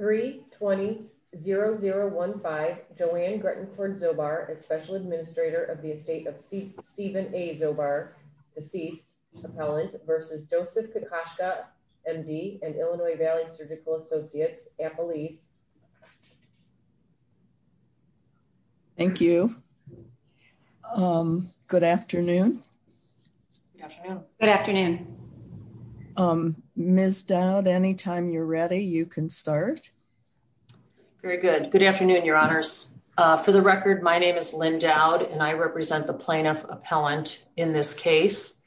320-0015 Joanne Grettenford-Zobar, a special administrator of the estate of Stephen A. Zobar, deceased, appellant, versus Joseph Kokoszka, MD, and Illinois Valley Surgical Associates, Appalese. Thank you. Good afternoon. Good afternoon. Ms. Dowd, anytime you're ready, you can start. Very good. Good afternoon, Your Honors. For the record, my name is Lynn Dowd, and I represent the plaintiff appellant in this case.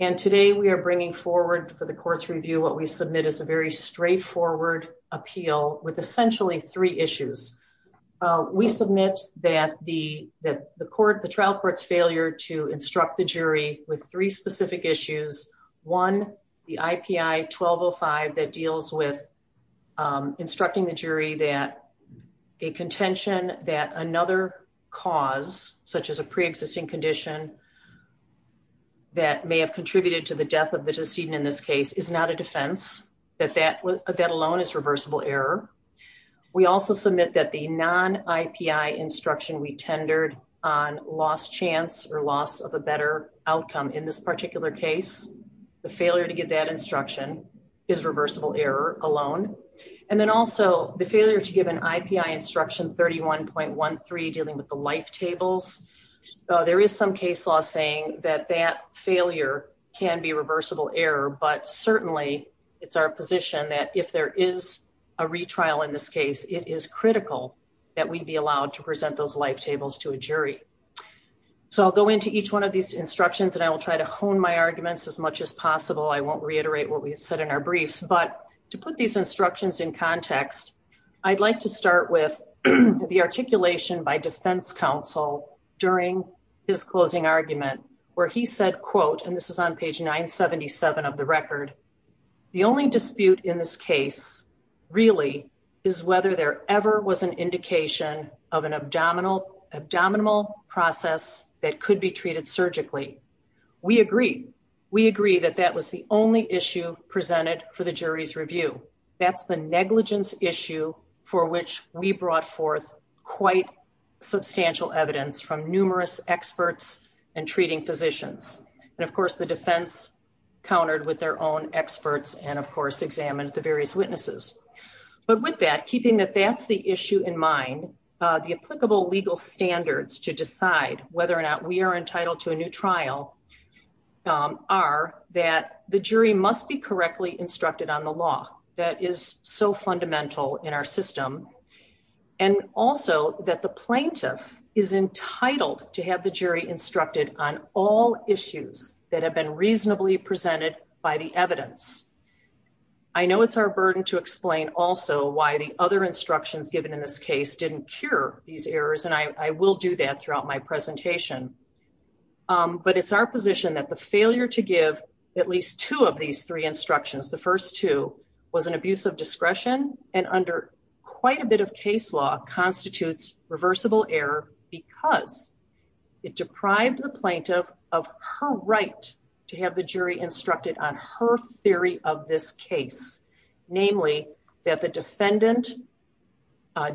And today we are bringing forward for the court's review what we submit as a very straightforward appeal with essentially three issues. We submit that the trial court's failure to instruct the one, the IPI 1205 that deals with instructing the jury that a contention that another cause, such as a pre-existing condition that may have contributed to the death of the decedent in this case, is not a defense, that that alone is reversible error. We also submit that the non-IPI instruction we tendered on lost chance or loss of a better outcome in this particular case the failure to get that instruction is reversible error alone, and then also the failure to give an IPI instruction 31.13 dealing with the life tables. There is some case law saying that that failure can be reversible error, but certainly it's our position that if there is a retrial in this case, it is critical that we be allowed to present those life tables to a jury. So I'll go into each one of these instructions and I will try to hone my arguments as much as possible. I won't reiterate what we've said in our briefs, but to put these instructions in context, I'd like to start with the articulation by defense counsel during his closing argument where he said, quote, and this is on page 977 of the record, the only dispute in this case really is whether there ever was an indication of an abdominal process that could be treated surgically. We agree. We agree that that was the only issue presented for the jury's review. That's the negligence issue for which we brought forth quite substantial evidence from numerous experts and treating physicians. And of course the defense countered with their own experts and of course examined the various witnesses. But with that, keeping that that's the issue in mind, the applicable legal standards to decide whether or not we are entitled to a new trial are that the jury must be correctly instructed on the law. That is so fundamental in our system. And also that the plaintiff is entitled to have the jury instructed on all issues that have been reasonably presented by the evidence. I know it's our burden to explain also why the other instructions given in this case didn't cure these errors and I will do that throughout my presentation. But it's our position that the failure to give at least two of these three instructions, the first two was an abuse of discretion and under quite a bit of case law constitutes reversible error because it deprived the plaintiff of her right to have the jury instructed on her theory of this case. Namely that the defendant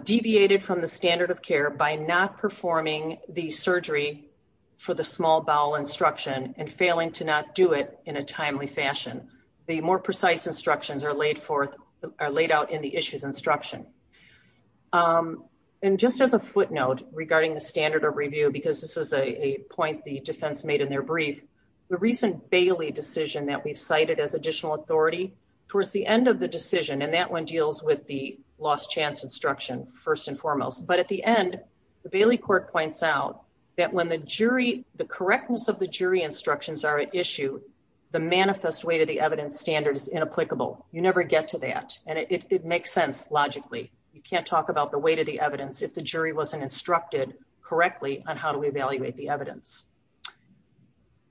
deviated from the standard of care by not performing the surgery for the small bowel instruction and failing to not do it in a timely fashion. The more precise instructions are laid forth are laid out in the issues instruction. Um, and just as a footnote regarding the standard of review, because this is a point the defense made in their brief, the recent Bailey decision that we've cited as additional authority towards the end of the decision. And that one deals with the lost chance instruction first and foremost. But at the end, the Bailey court points out that when the jury, the correctness of the jury instructions are at issue, the manifest way to the evidence standard is inapplicable. You never get to that. And it makes sense. Logically, you can't talk about the weight of the evidence if the jury wasn't instructed correctly on how do we evaluate the evidence?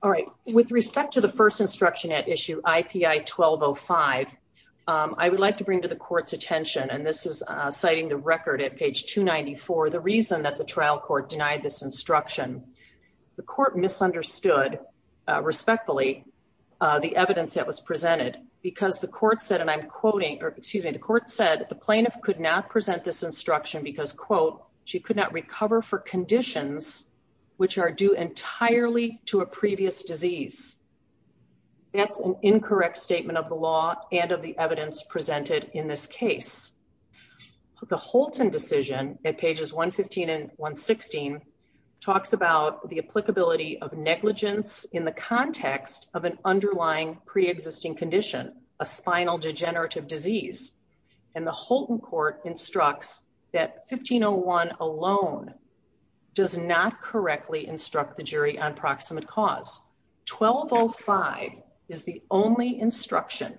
All right. With respect to the first instruction at issue IPI 1205, um, I would like to bring to the court's attention, and this is citing the record at page 294. The reason that the trial court denied this instruction, the court misunderstood respectfully, uh, the evidence that was presented because the court said, and I'm quoting or excuse me, the court said the plaintiff could not present this instruction because quote, she could not recover for conditions which are due entirely to a previous disease. That's an incorrect statement of the law and of the evidence presented in this case. The Holton decision at pages 1 15 and 1 16 talks about the applicability of negligence in the context of an underlying preexisting condition, a spinal degenerative disease. And the Holton court instructs that 1501 alone does not correctly instruct the jury on proximate cause. 1205 is the only instruction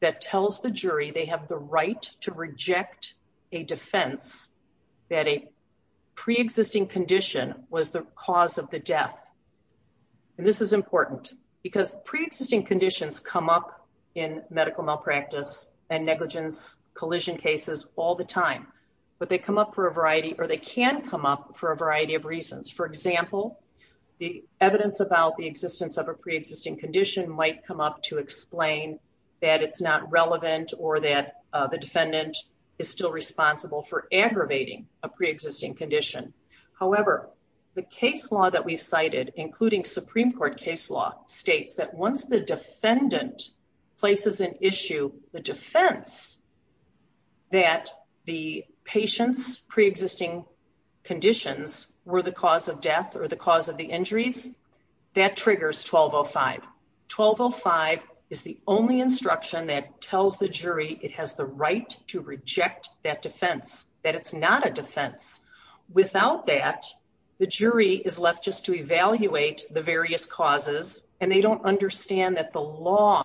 that tells the jury they have the right to reject a defense that a preexisting condition was the cause of the death. And this is important because preexisting conditions come up in medical malpractice and negligence collision cases all the time, but they come up for a variety or they can come up for a variety of reasons. For example, the evidence about the existence of a preexisting condition might come up to explain that it's not relevant or that the defendant is still responsible for aggravating a preexisting condition. However, the case law that we've cited, including Supreme Court case law, states that once the defendant places an issue, the defense that the patient's preexisting conditions were the cause of death or the cause of the injuries, that triggers 1205. 1205 is the only instruction that tells the jury it has the right to reject that defense, that it's not a defense. Without that, the jury is left just to evaluate the various causes and they don't understand that the law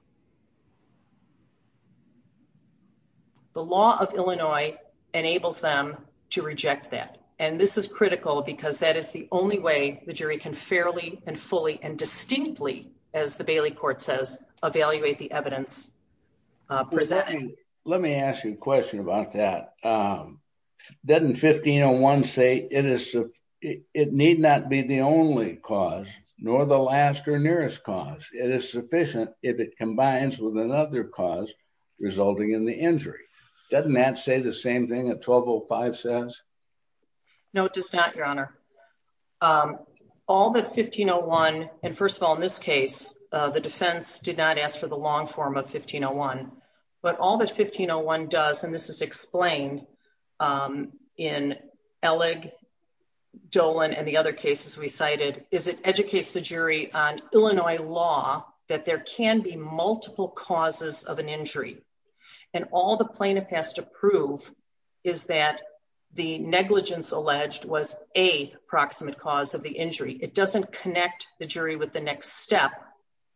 of Illinois enables them to reject that. And this is critical because that is the only way the jury can fairly and fully and distinctly, as the Bailey Court says, evaluate the evidence. Let me ask you a question about that. Doesn't 1501 say it need not be the only cause, nor the last or nearest cause. It is sufficient if it combines with another cause resulting in the injury. Doesn't that say the same thing that 1205 says? No, it does not, Your Honor. All that 1501, and first of all, in this case, the defense did not ask for the long form of 1501. But all that 1501 does, and this is explained in Eleg, Dolan, and the other cases we cited, is it educates the jury on Illinois law that there negligence alleged was a proximate cause of the injury. It doesn't connect the jury with the next step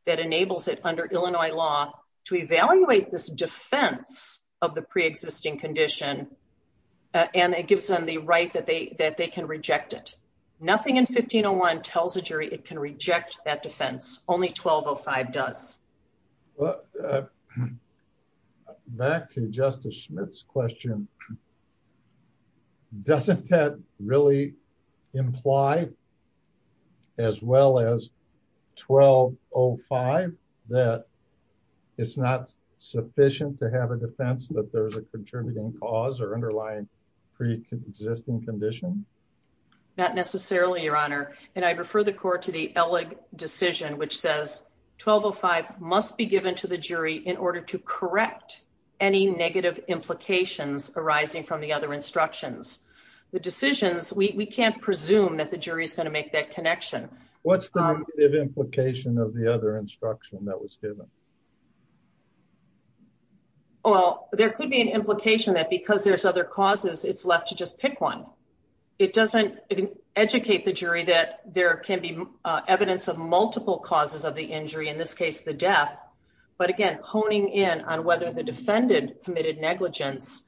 that enables it under Illinois law to evaluate this defense of the preexisting condition. And it gives them the right that they can reject it. Nothing in 1501 tells a jury it can reject that defense. Only 1205 does. Well, back to Justice Schmidt's question. Doesn't that really imply, as well as 1205, that it's not sufficient to have a defense that there's a contributing cause or underlying preexisting condition? Not necessarily, Your Honor. And I refer the court to the Eleg decision, which says 1205 must be given to the jury in order to correct any negative implications arising from the other instructions. The decisions, we can't presume that the jury is going to make that connection. What's the implication of the other instruction that was given? Well, there could be an implication that because there's other causes, it's left to just pick one. It doesn't educate the jury that there can be evidence of multiple causes of the injury, in this case, the death. But again, honing in on whether the defendant committed negligence,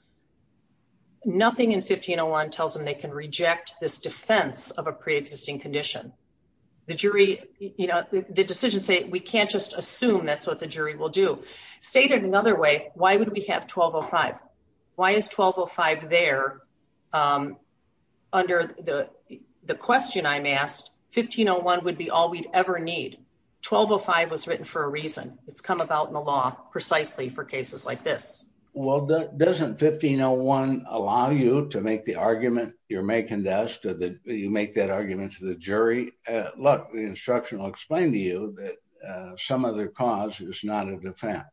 nothing in 1501 tells them they can reject this defense of a preexisting condition. The jury, you know, the decisions say we can't just assume that's what the jury will do. Stated another way, why would we have 1205? Why is 1205 there? Under the question I'm asked, 1501 would be all we'd ever need. 1205 was written for a reason. It's come about in the law precisely for cases like this. Well, doesn't 1501 allow you to make the argument you're making to us, you make that argument to the jury? Look, the instruction will explain to you that some other cause is not a defense.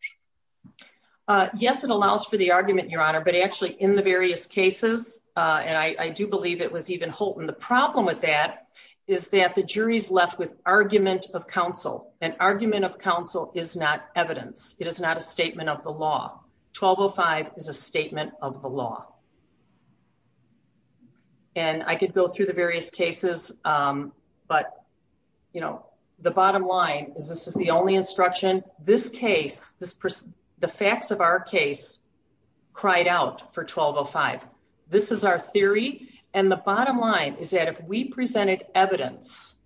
Yes, it allows for the argument, Your Honor, but actually in the various cases, and I do believe it was even Holton. The problem with that is that the jury's left with argument of counsel and argument of counsel is not evidence. It is not a statement of the law. 1205 is a statement of the law. And I could go through the various cases, but, you know, the bottom line is, this is the only instruction. This case, the facts of our case cried out for 1205. This is our theory. And the bottom line is that if we presented evidence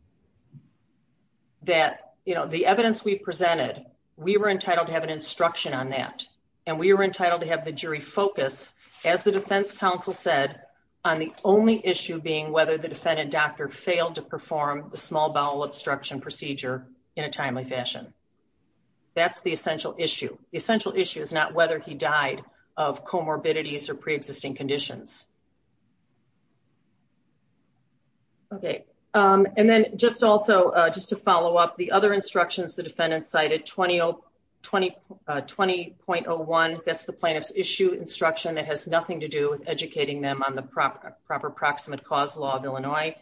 that, you know, the evidence we presented, we were entitled to have an instruction on that. And we were entitled to have the jury focus as the defense counsel said on the only issue being whether the defendant doctor failed to perform the small bowel obstruction procedure in a timely fashion. That's the essential issue. The essential issue is not whether he died of comorbidities or preexisting conditions. Okay. And then just also just to follow up the other instructions, the defendant cited 20.01. That's the plaintiff's issue instruction that has nothing to do with educating them on the proper proximate cause law of Illinois.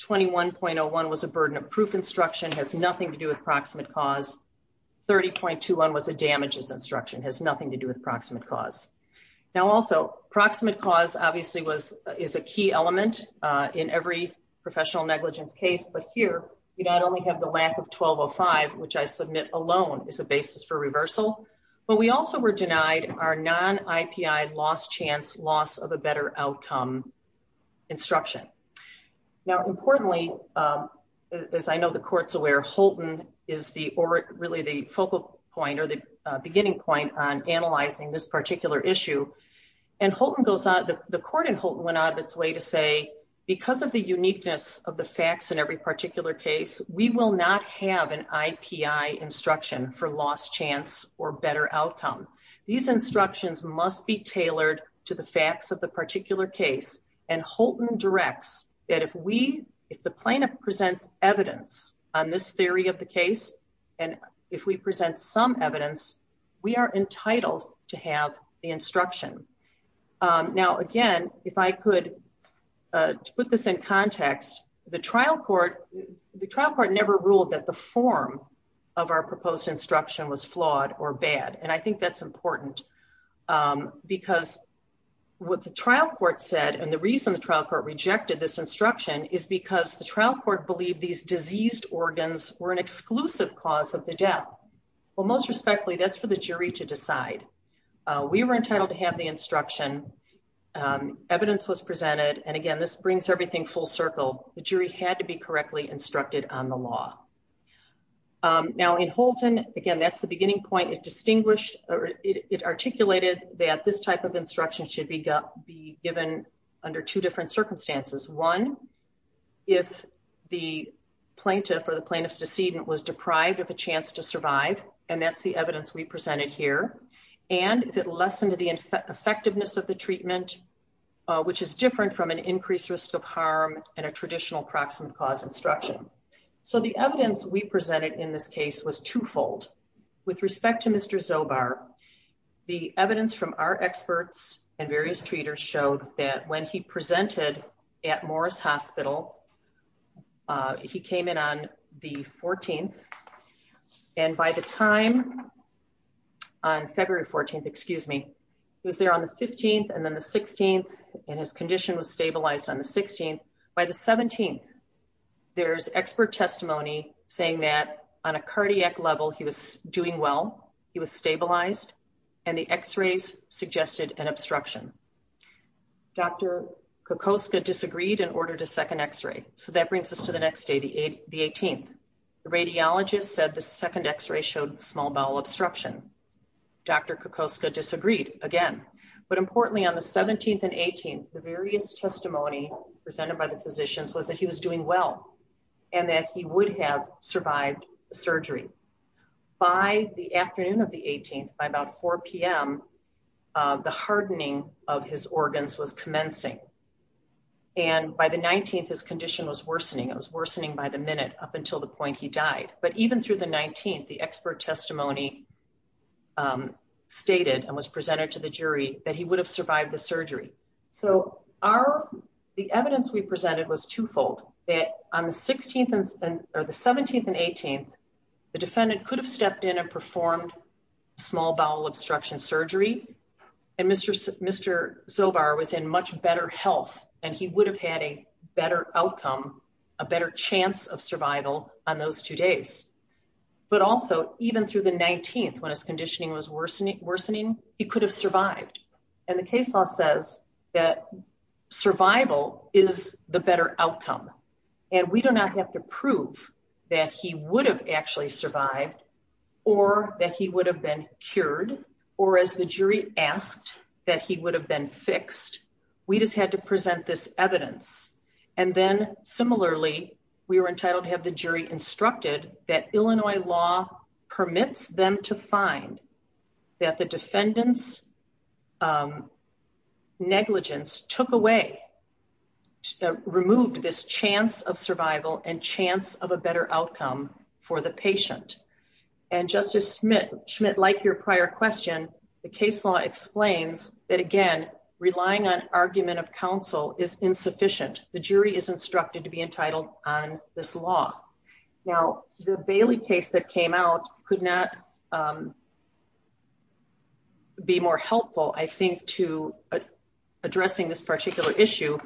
21.01 was a burden of proof instruction, has nothing to do with proximate cause. 30.21 was a damages instruction, has nothing to do with proximate cause. Now, also proximate cause obviously is a key element in every professional negligence case. But here, you not only have the lack of 1205, which I submit alone is a basis for reversal, but we also were denied our non-IPI lost chance loss of a better outcome instruction. Now, importantly, as I know the court's aware, Holton is really the focal point or the beginning point on analyzing this particular issue. And the court in Holton went out of its way to say, because of the uniqueness of the facts in every particular case, we will not have an IPI instruction for lost chance or better outcome. These instructions must be tailored to the facts of the particular case. And Holton directs that if we, if the plaintiff presents evidence on this theory of the case, and if we present some evidence, we are entitled to have the instruction. Now, again, if I could put this in context, the trial court never ruled that the form of our proposed instruction was flawed or bad. And I think that's important because what the trial court said, and the reason the trial court rejected this instruction is because the trial court believed these diseased organs were an exclusive cause of the death. Well, most respectfully, that's for the jury to decide. We were entitled to have the instruction, evidence was presented. And again, this brings everything full circle. The jury had to be correctly instructed on the law. Now in Holton, again, that's the beginning point. It distinguished or it articulated that this type of instruction should be given under two different circumstances. One, if the plaintiff or the plaintiff's decedent was deprived of a chance to survive, and that's the evidence we presented here. And if it lessened to the effectiveness of the treatment, which is different from an increased risk of harm and a traditional proximate cause instruction. So the evidence we presented in this case was twofold. With respect to Mr. Zobar, the evidence from our experts and various treaters showed that when he presented at Morris Hospital, he came in on the 14th. And by the time, on February 14th, excuse me, he was there on the 15th and then the 16th, and his condition was stabilized on the 16th. By the 17th, there's expert testimony saying that on a cardiac level, he was doing well, he was stabilized, and the x-rays suggested an obstruction. Dr. Kokoska disagreed and ordered a second x-ray. So that brings us to the next day, the 18th. The radiologist said the second x-ray showed small bowel obstruction. Dr. Kokoska disagreed again. But importantly, on the 17th and 18th, the various testimony presented by the physicians was that he was doing well, and that he would have survived surgery. By the afternoon of the 18th, by about 4 p.m., the hardening of his organs was commencing. And by the 19th, his condition was stable. But even through the 19th, the expert testimony stated and was presented to the jury that he would have survived the surgery. So the evidence we presented was twofold, that on the 17th and 18th, the defendant could have stepped in and performed small bowel obstruction surgery, and Mr. Zobar was in much better health, and he would have had a outcome, a better chance of survival on those two days. But also, even through the 19th, when his conditioning was worsening, he could have survived. And the case law says that survival is the better outcome. And we do not have to prove that he would have actually survived, or that he would have been cured, or as the jury asked, that he would have been fixed. We just had to present this evidence. And then, similarly, we were entitled to have the jury instructed that Illinois law permits them to find that the defendant's negligence removed this chance of survival and chance of a better outcome for the patient. And Justice Schmidt, like your argument of counsel, is insufficient. The jury is instructed to be entitled on this law. Now, the Bailey case that came out could not be more helpful, I think, to addressing this particular issue,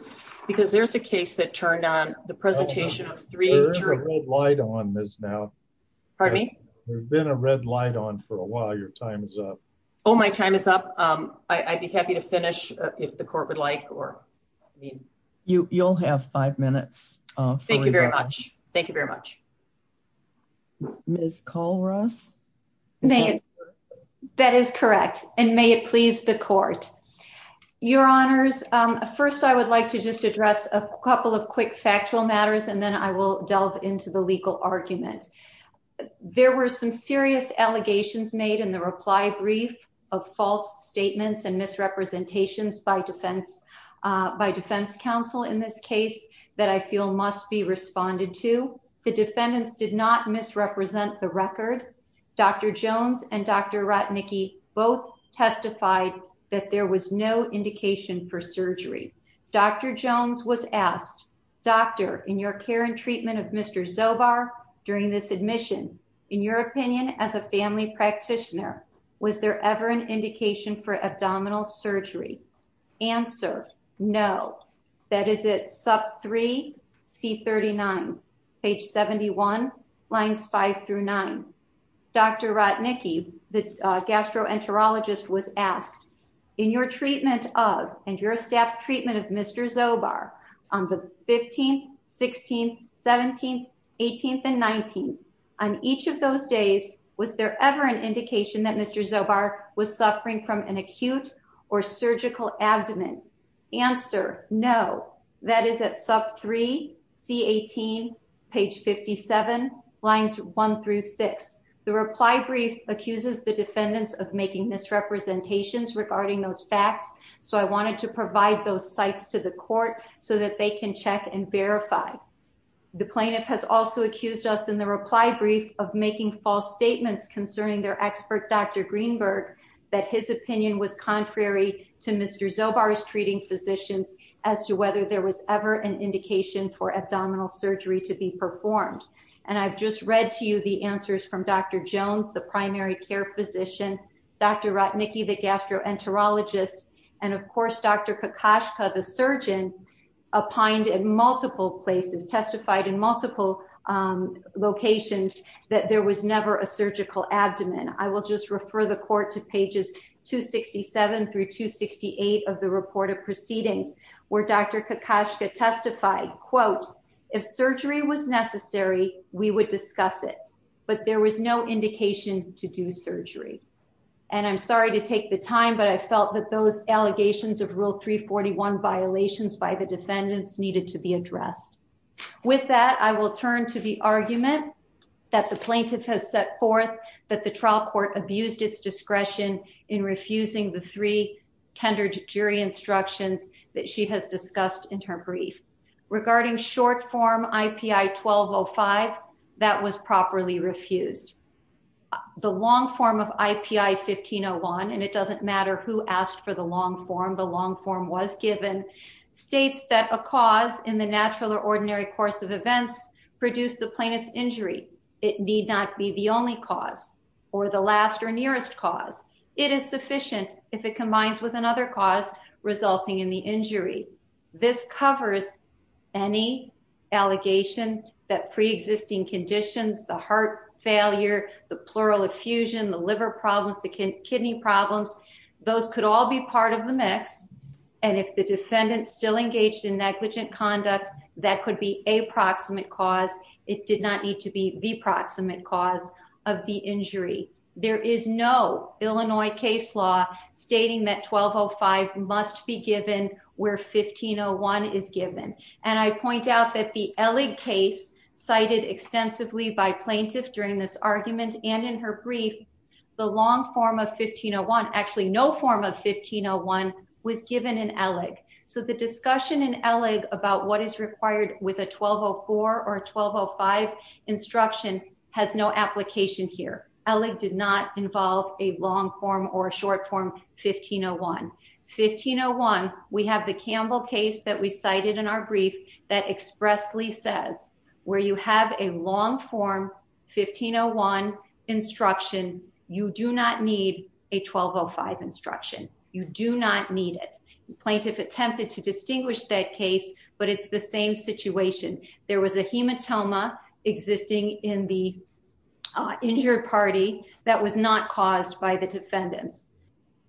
because there's a case that turned on the presentation of three... There's a red light on this now. Pardon me? There's been a red light on for a while. Your time is up. Oh, my time is up. I'd be happy to finish if the court would like, or... You'll have five minutes. Thank you very much. Thank you very much. Ms. Kallross? That is correct. And may it please the court. Your Honors, first, I would like to just address a couple of quick factual matters, and then I will delve into the legal argument. There were some serious allegations made in the reply brief of false statements and misrepresentations by defense counsel in this case that I feel must be responded to. The defendants did not misrepresent the record. Dr. Jones and Dr. Ratnicki both testified that there was no indication for surgery. Dr. Jones was asked, doctor, in your care and treatment of Mr. Zobar during this admission, in your opinion, as a family practitioner, was there ever an indication for abdominal surgery? Answer, no. That is at sub three, C39, page 71, lines five through nine. Dr. Ratnicki, the gastroenterologist, was asked, in your treatment of, and your staff's treatment of Mr. Zobar on the 15th, 16th, 17th, 18th, and 19th, on each of those days, was there ever an indication that Mr. Zobar was suffering from an acute or surgical abdomen? Answer, no. That is at sub three, C18, page 57, lines one through six. The reply brief accuses the defendants of making misrepresentations regarding those facts. So I wanted to provide those sites to the court so that they can check and verify. The plaintiff has also accused us in the reply brief of making false statements concerning their expert, Dr. Greenberg, that his opinion was contrary to Mr. Zobar's treating physicians as to whether there was ever an indication for abdominal surgery to be performed. And I've just read to you the answers from Dr. Jones, the primary care physician, Dr. Ratnicki, the gastroenterologist, and of course, Dr. Kokoschka, the surgeon, opined in multiple places, testified in multiple locations that there was never a surgical abdomen. I will just refer the court to pages 267 through 268 of the report of proceedings, where Dr. Kokoschka testified, quote, if surgery was necessary, we would discuss it, but there was no indication to do surgery. And I'm sorry to take the time, but I felt that those allegations of rule 341 violations by the defendants needed to be addressed. With that, I will turn to the argument that the plaintiff has set forth that the trial court abused its discretion in refusing the three tender jury instructions that she has discussed in her brief. Regarding short form IPI 1205, that was properly refused. The long form of IPI 1501, and it doesn't matter who asked for the long form, the long form was given, states that a cause in the natural or ordinary course of events produced the plaintiff's injury. It need not be the only cause or the last or nearest cause. It is sufficient if it combines with another cause resulting in the injury. This covers any allegation that pre-existing conditions, the heart failure, the pleural effusion, the liver problems, the kidney problems, those could all be part of the mix. And if the defendant still engaged in negligent conduct, that could be a proximate cause. It did not need to be the proximate cause of the injury. There is no Illinois case law stating that 1205 must be given where 1501 is not. It is not that the Eleg case cited extensively by plaintiffs during this argument and in her brief, the long form of 1501, actually no form of 1501 was given in Eleg. So the discussion in Eleg about what is required with a 1204 or 1205 instruction has no application here. Eleg did not involve a long form or a short form 1501. 1501, we have the Campbell case that we cited in our brief that expressly says where you have a long form 1501 instruction, you do not need a 1205 instruction. You do not need it. The plaintiff attempted to distinguish that case, but it's the same situation. There was a hematoma existing in the injured party that was not caused by the defendants.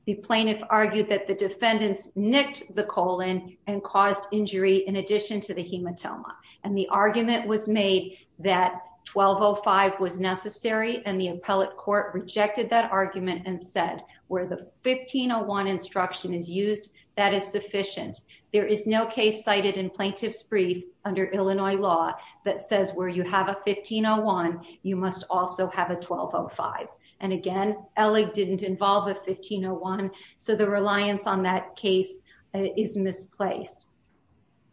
The plaintiff argued that the defendants nicked the colon and caused injury in addition to the hematoma. And the argument was made that 1205 was necessary and the appellate court rejected that argument and said where the 1501 instruction is used, that is sufficient. There is no case cited in plaintiff's brief under Illinois law that says where you have a 1501, you must also have a 1501. So the reliance on that case is misplaced.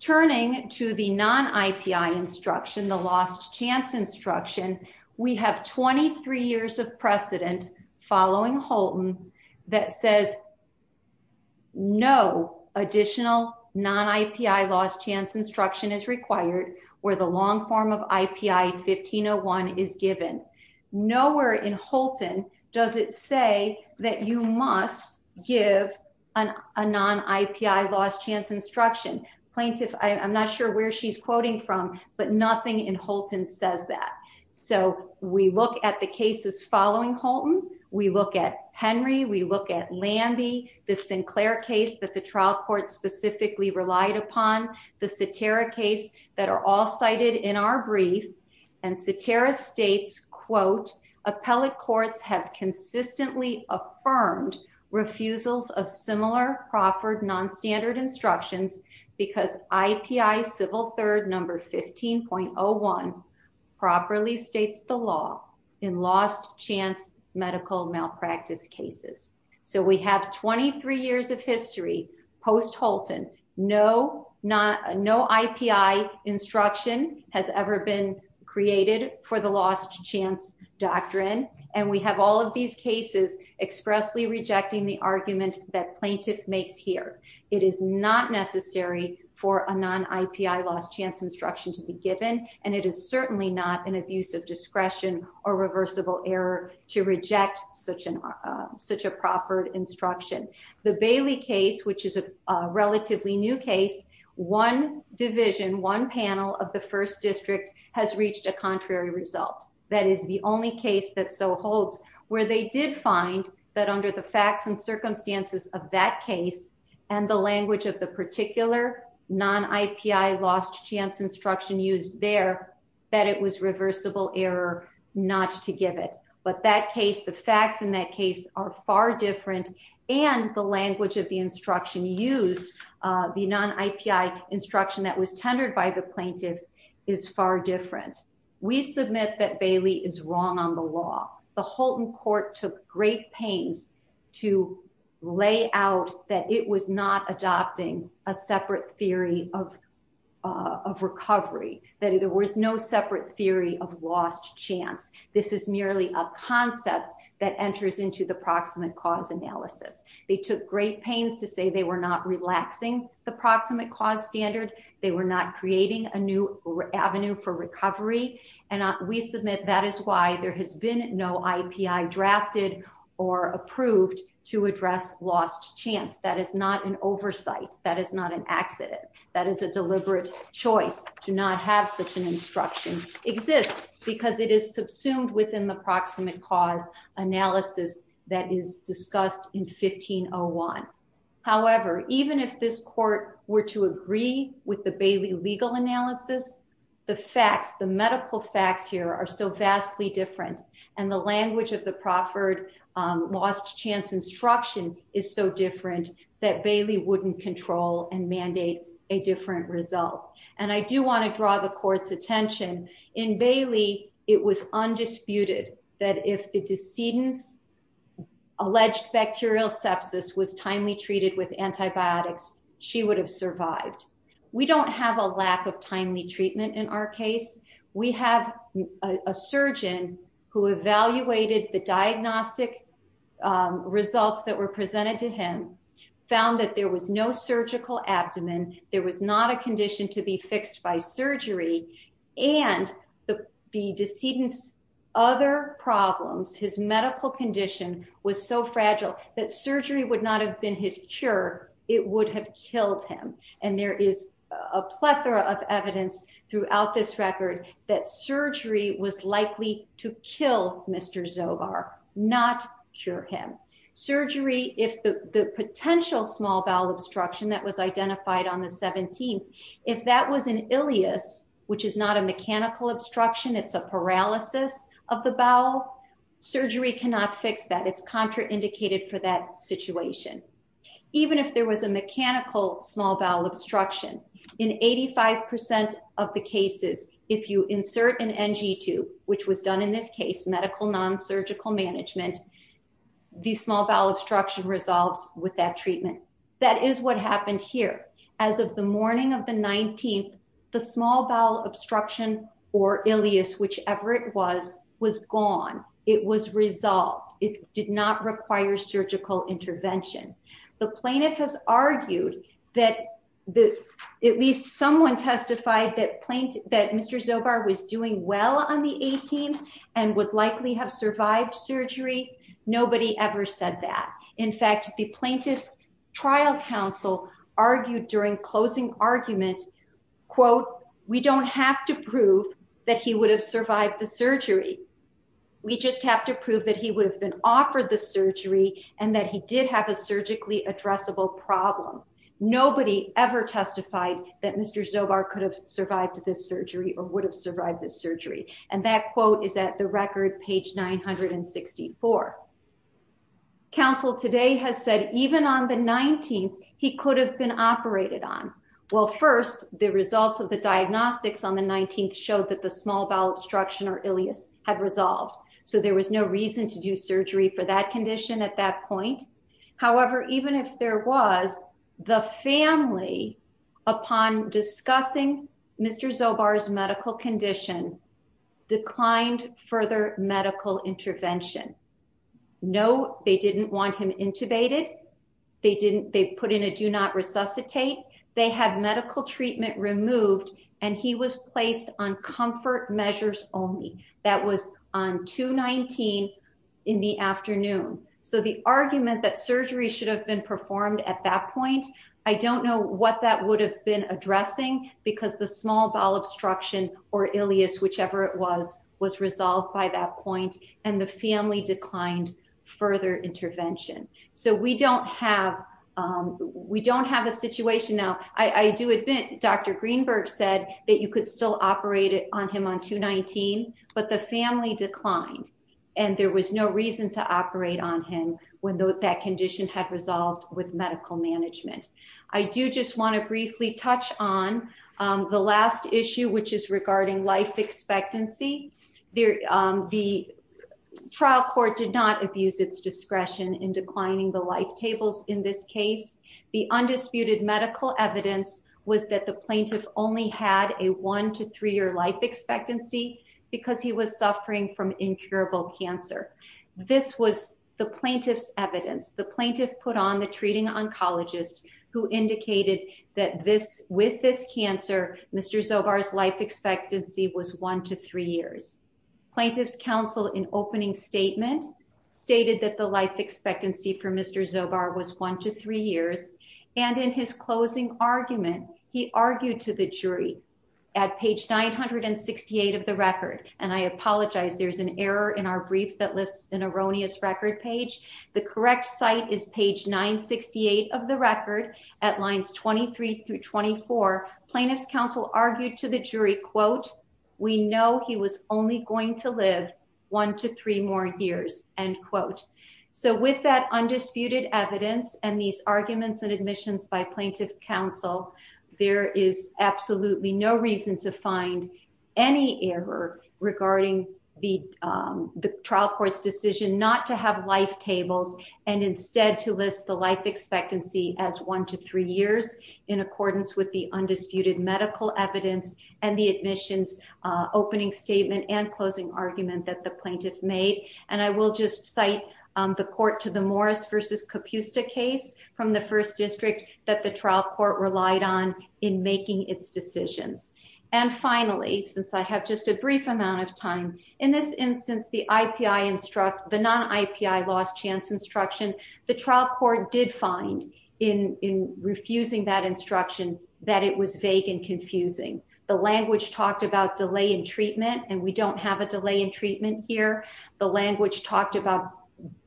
Turning to the non-IPI instruction, the lost chance instruction, we have 23 years of precedent following Holton that says no additional non-IPI lost chance instruction is required where the long form of IPI 1501 is given. Nowhere in Holton does it say that you must give a non-IPI lost chance instruction. Plaintiff, I'm not sure where she's quoting from, but nothing in Holton says that. So we look at the cases following Holton, we look at Henry, we look at Lambie, the Sinclair case that the trial court specifically relied upon, the Saterra case that are all cited in our brief, and Saterra states, quote, appellate courts have consistently affirmed refusals of similar proffered non-standard instructions because IPI civil third number 15.01 properly states the law in lost chance medical malpractice cases. So we have 23 years of history post-Holton, no IPI instruction has ever been created for the lost chance doctrine, and we have all of these cases expressly rejecting the argument that plaintiff makes here. It is not necessary for a non-IPI lost chance instruction to be given, and it is certainly not an abuse of discretion or reversible error to reject such a proffered instruction. The Bailey case, which is a relatively new case, one division, one panel of the first district has reached a contrary result. That is the only case that so holds, where they did find that under the facts and circumstances of that case, and the language of the particular non-IPI lost chance instruction used there, that it was reversible error not to give it. But that case, the facts in that case are far different, and the language of the instruction used, the non-IPI instruction that was tendered by the plaintiff is far different. We submit that Bailey is wrong on the law. The Holton court took great pains to lay out that it was not adopting a separate theory of recovery, that there was no separate theory of lost chance. This is merely a concept that enters into the proximate cause analysis. They took great pains to say they were not relaxing the proximate cause standard. They were not creating a new avenue for recovery, and we submit that is why there has been no IPI drafted or approved to address lost chance. That is not an oversight. That is not an accident. That is a deliberate choice to not have such an instruction exist, because it is subsumed within the proximate cause analysis that is discussed in 1501. However, even if this court were to agree with the Bailey legal analysis, the facts, the medical facts here are so vastly different, and the language of the Crawford lost chance instruction is so different that Bailey would not control and mandate a different result. And I do want to draw the court's attention. In Bailey, it was undisputed that if the decedent's bacterial sepsis was timely treated with antibiotics, she would have survived. We don't have a lack of timely treatment in our case. We have a surgeon who evaluated the diagnostic results that were presented to him, found that there was no surgical abdomen, there was not a condition to be fixed by surgery, and the decedent's other problems, his medical condition was so that surgery would not have been his cure, it would have killed him. And there is a plethora of evidence throughout this record that surgery was likely to kill Mr. Zobar, not cure him. Surgery, if the potential small bowel obstruction that was identified on the 17th, if that was an ileus, which is not a mechanical obstruction, it's a paralysis of the bowel, surgery cannot fix that. It's contraindicated for that situation. Even if there was a mechanical small bowel obstruction, in 85% of the cases, if you insert an NG tube, which was done in this case, medical non-surgical management, the small bowel obstruction resolves with that treatment. That is what happened here. As of the morning of the 19th, the small bowel obstruction or ileus, whichever it was, was gone. It was resolved. It did not require surgical intervention. The plaintiff has argued that at least someone testified that Mr. Zobar was doing well on the 18th and would likely have survived surgery. Nobody ever said that. In fact, the plaintiff's trial counsel argued during closing argument, quote, we don't have to prove that he would have survived the surgery. We just have to prove that he would have been offered the surgery and that he did have a surgically addressable problem. Nobody ever testified that Mr. Zobar could have survived this surgery or would have survived this surgery. And that quote is at the record, page 964. Counsel today has said, even on the 19th, he could have been operated on. Well, first, the results of the diagnostics on the 19th showed that the small bowel obstruction or ileus had resolved. So there was no reason to do surgery for that condition at that point. However, even if there was, the family, upon discussing Mr. Zobar's medical condition, declined further medical intervention. No, they didn't want him intubated. They didn't, they put in a do not resuscitate. They had medical treatment removed and he was placed on comfort measures only. That was on 219 in the afternoon. So the argument that surgery should have been performed at that point, I don't know what that would have been addressing because the small bowel obstruction or ileus, whichever it was, was resolved by that point. And the family declined further intervention. So we don't have, we don't have a situation now. I do admit, Dr. Greenberg said that you could still operate on him on 219, but the family declined and there was no reason to operate on him when that condition had resolved with medical management. I do just want to briefly touch on the last issue, which is regarding life expectancy. The trial court did not abuse its discretion in declining the life tables in this case. The undisputed medical evidence was that the plaintiff only had a one to three-year life expectancy because he was suffering from incurable cancer. This was the plaintiff's oncologist who indicated that this with this cancer, Mr. Zobar's life expectancy was one to three years. Plaintiff's counsel in opening statement stated that the life expectancy for Mr. Zobar was one to three years. And in his closing argument, he argued to the jury at page 968 of the record. And I apologize, there's an error in our brief that lists an erroneous record page. The correct site is page 968 of the record at lines 23 through 24. Plaintiff's counsel argued to the jury, quote, we know he was only going to live one to three more years, end quote. So with that undisputed evidence and these arguments and admissions by plaintiff counsel, there is instead to list the life expectancy as one to three years in accordance with the undisputed medical evidence and the admissions opening statement and closing argument that the plaintiff made. And I will just cite the court to the Morris versus Capusta case from the first district that the trial court relied on in making its decisions. And finally, since I have just a instruction, the trial court did find in refusing that instruction that it was vague and confusing. The language talked about delay in treatment, and we don't have a delay in treatment here. The language talked about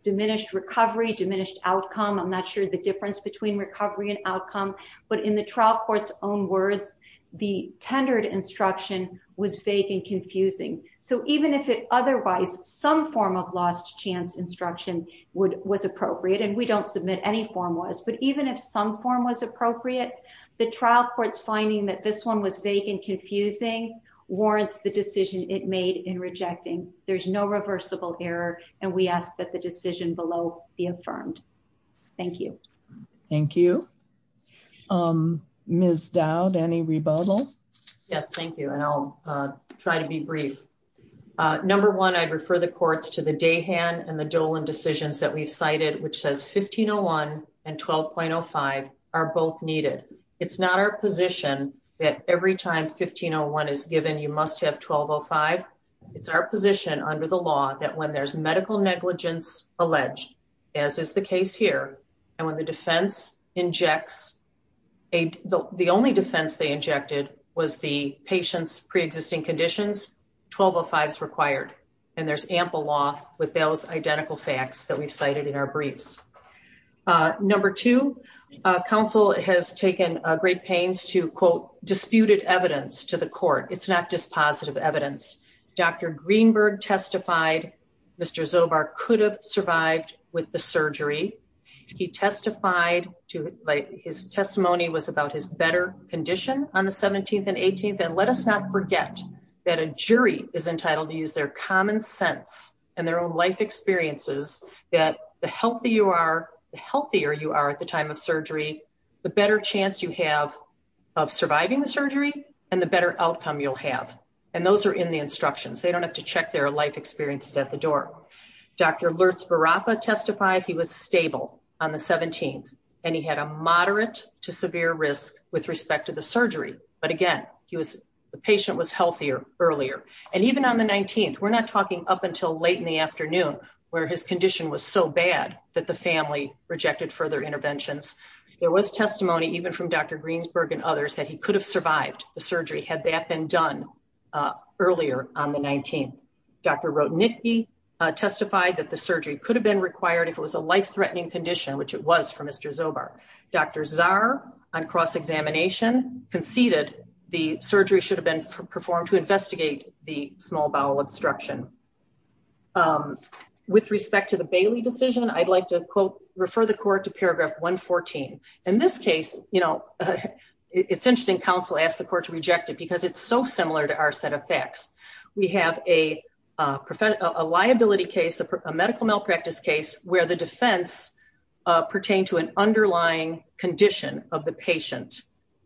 diminished recovery, diminished outcome. I'm not sure the difference between recovery and outcome, but in the trial court's own words, the tendered instruction was vague and confusing. So even if it otherwise some form of lost chance instruction was appropriate, and we don't submit any form was, but even if some form was appropriate, the trial court's finding that this one was vague and confusing warrants the decision it made in rejecting. There's no reversible error, and we ask that the decision below be affirmed. Thank you. Thank you. Ms. Dowd, any rebuttal? Yes, thank you, and I'll try to be brief. Number one, I'd refer the courts to the Dayhan and the Dolan decisions that we've cited, which says 1501 and 12.05 are both needed. It's not our position that every time 1501 is given, you must have 1205. It's our position under the law that when there's medical negligence alleged, as is the case here, and when the defense injects, the only defense they injected was the patient's pre-existing conditions, 1205 is required, and there's ample law with those identical facts that we've cited in our briefs. Number two, counsel has taken great pains to, quote, disputed evidence to the court. It's not dispositive evidence. Dr. Greenberg testified Mr. Zobar could have survived with the surgery. He testified, his testimony was about his better condition on the 17th and 18th, and let us not forget that a jury is entitled to use their common sense and their own life experiences that the healthier you are at the time of surgery, the better chance you have of surviving the surgery and the better outcome you'll have, and those are in the instructions. They don't have to check their life experiences at the door. Dr. Lertz-Varapa testified he was stable on the 17th and he had a moderate to severe risk with respect to the surgery, but again, the patient was healthier earlier, and even on the 19th, we're not talking up until late in the afternoon where his condition was so bad that the family rejected further interventions. There was testimony even from Dr. Greensberg and others that he could have survived the surgery had that been done earlier on the 19th. Dr. Rotenicke testified that the surgery could have been required if it was a life-threatening condition, which it was for Mr. Zobar. Dr. Zarr on cross-examination conceded the surgery should have been performed to investigate the small bowel obstruction. With respect to the Bailey decision, I'd like to quote, refer the court to paragraph 114. In this case, it's interesting counsel asked the court to reject it because it's so similar to our set of facts. We have a liability case, a medical malpractice case where the defense pertained to an underlying condition of the patient.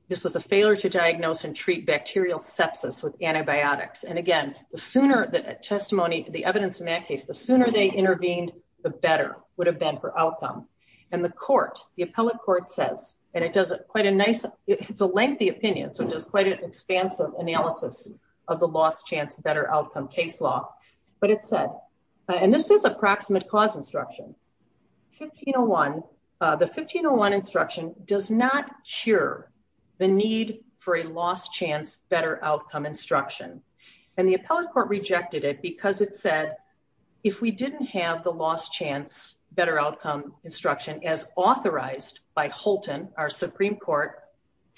This was a failure to diagnose and treat bacterial sepsis with antibiotics, and again, the sooner the testimony, the evidence in that case, the sooner they intervened, the better would have been for outcome. And the court, the appellate court says, and it does quite a nice, it's a lengthy opinion, so it does quite an expansive analysis of the lost chance better outcome case law, but it said, and this is approximate cause instruction, 1501, the 1501 instruction does not cure the need for a lost chance better outcome instruction. And the appellate court rejected it because it said, if we didn't have the lost chance better outcome instruction as authorized by Holton, our Supreme Court,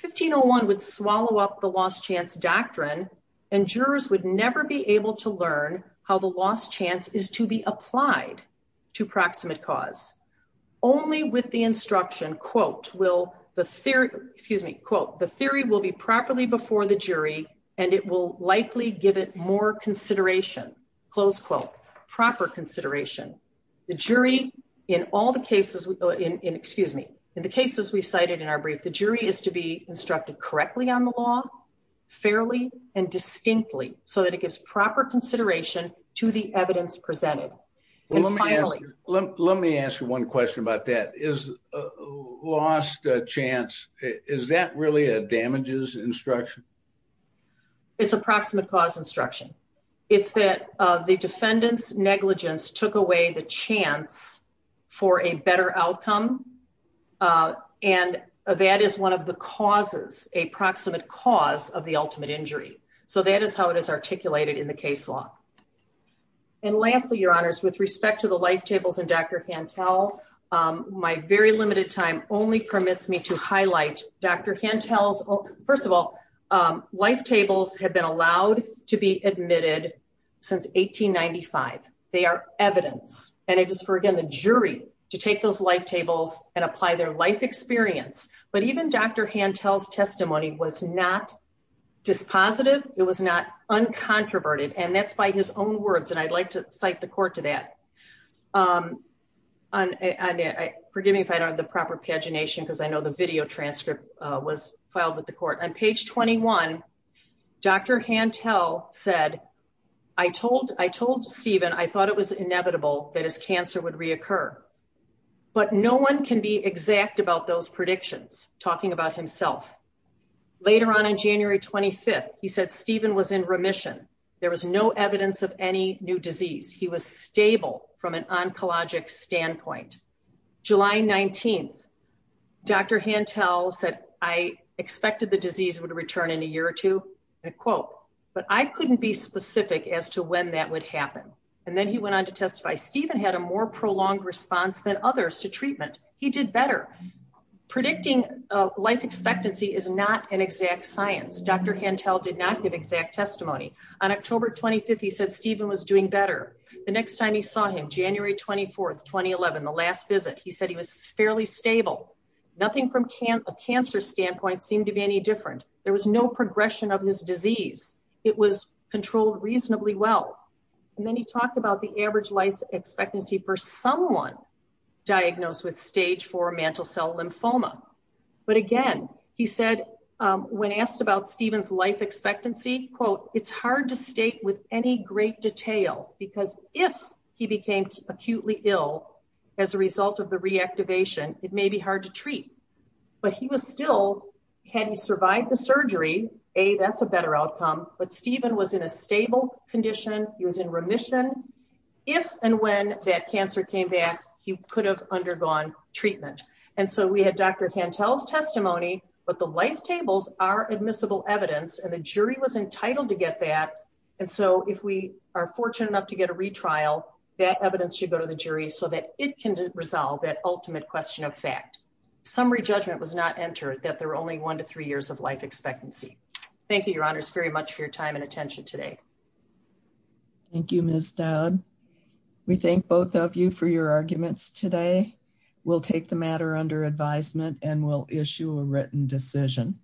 1501 would swallow up the lost chance doctrine and jurors would never be able to learn how the lost chance is to be applied to proximate cause. Only with the instruction, will the theory, excuse me, quote, the theory will be properly before the jury, and it will likely give it more consideration, close quote, proper consideration. The jury in all the cases, excuse me, in the cases we've cited in our brief, the jury is to be instructed correctly on the law, fairly and distinctly, so that it gives proper consideration to the evidence presented. And finally, let me ask you one question about that. Is lost chance, is that really a damages instruction? It's approximate cause instruction. It's that the defendant's negligence took away the chance for a better outcome, and that is one of the causes, a proximate cause of the with respect to the life tables and Dr. Hantel, my very limited time only permits me to highlight Dr. Hantel's, first of all, life tables have been allowed to be admitted since 1895. They are evidence, and it is for, again, the jury to take those life tables and apply their life experience. But even Dr. Hantel's testimony was not dispositive, it was not uncontroverted, and that's by his own words, and I'd like to cite the court to that. Forgive me if I don't have the proper pagination, because I know the video transcript was filed with the court. On page 21, Dr. Hantel said, I told Stephen, I thought it was inevitable that his cancer would reoccur, but no one can be exact about those predictions, talking about himself. Later on, on January 25th, he said Stephen was in remission. There was no evidence of any new disease. He was stable from an oncologic standpoint. July 19th, Dr. Hantel said, I expected the disease would return in a year or two, and I quote, but I couldn't be specific as to when that would happen. And then he went on to testify, Stephen had a more prolonged response than others to treatment. He did better. Predicting life expectancy is not an exact science. Dr. Hantel did not give exact testimony. On October 25th, he said Stephen was doing better. The next time he saw him, January 24th, 2011, the last visit, he said he was fairly stable. Nothing from a cancer standpoint seemed to be any different. There was no progression of his disease. It was controlled reasonably well. And then he talked about the average life expectancy for someone diagnosed with stage four mantle cell lymphoma. But again, he said, when asked about Stephen's life expectancy, quote, it's hard to state with any great detail, because if he became acutely ill as a result of the reactivation, it may be hard to treat. But he was still, had he survived the surgery, A, that's a better outcome. But Stephen was in a stable condition. He was in remission. If and when that cancer came back, he could have undergone treatment. And so we had Dr. Hantel's testimony, but the life tables are admissible evidence and the jury was entitled to get that. And so if we are fortunate enough to get a retrial, that evidence should go to the jury so that it can resolve that ultimate question of fact. Summary judgment was not entered that there were only one to three years of life expectancy. Thank you, your honors very much for your time and attention today. Thank you, Ms. Dowd. We thank both of you for your arguments today. We'll take the matter under advisement and we'll issue a written decision.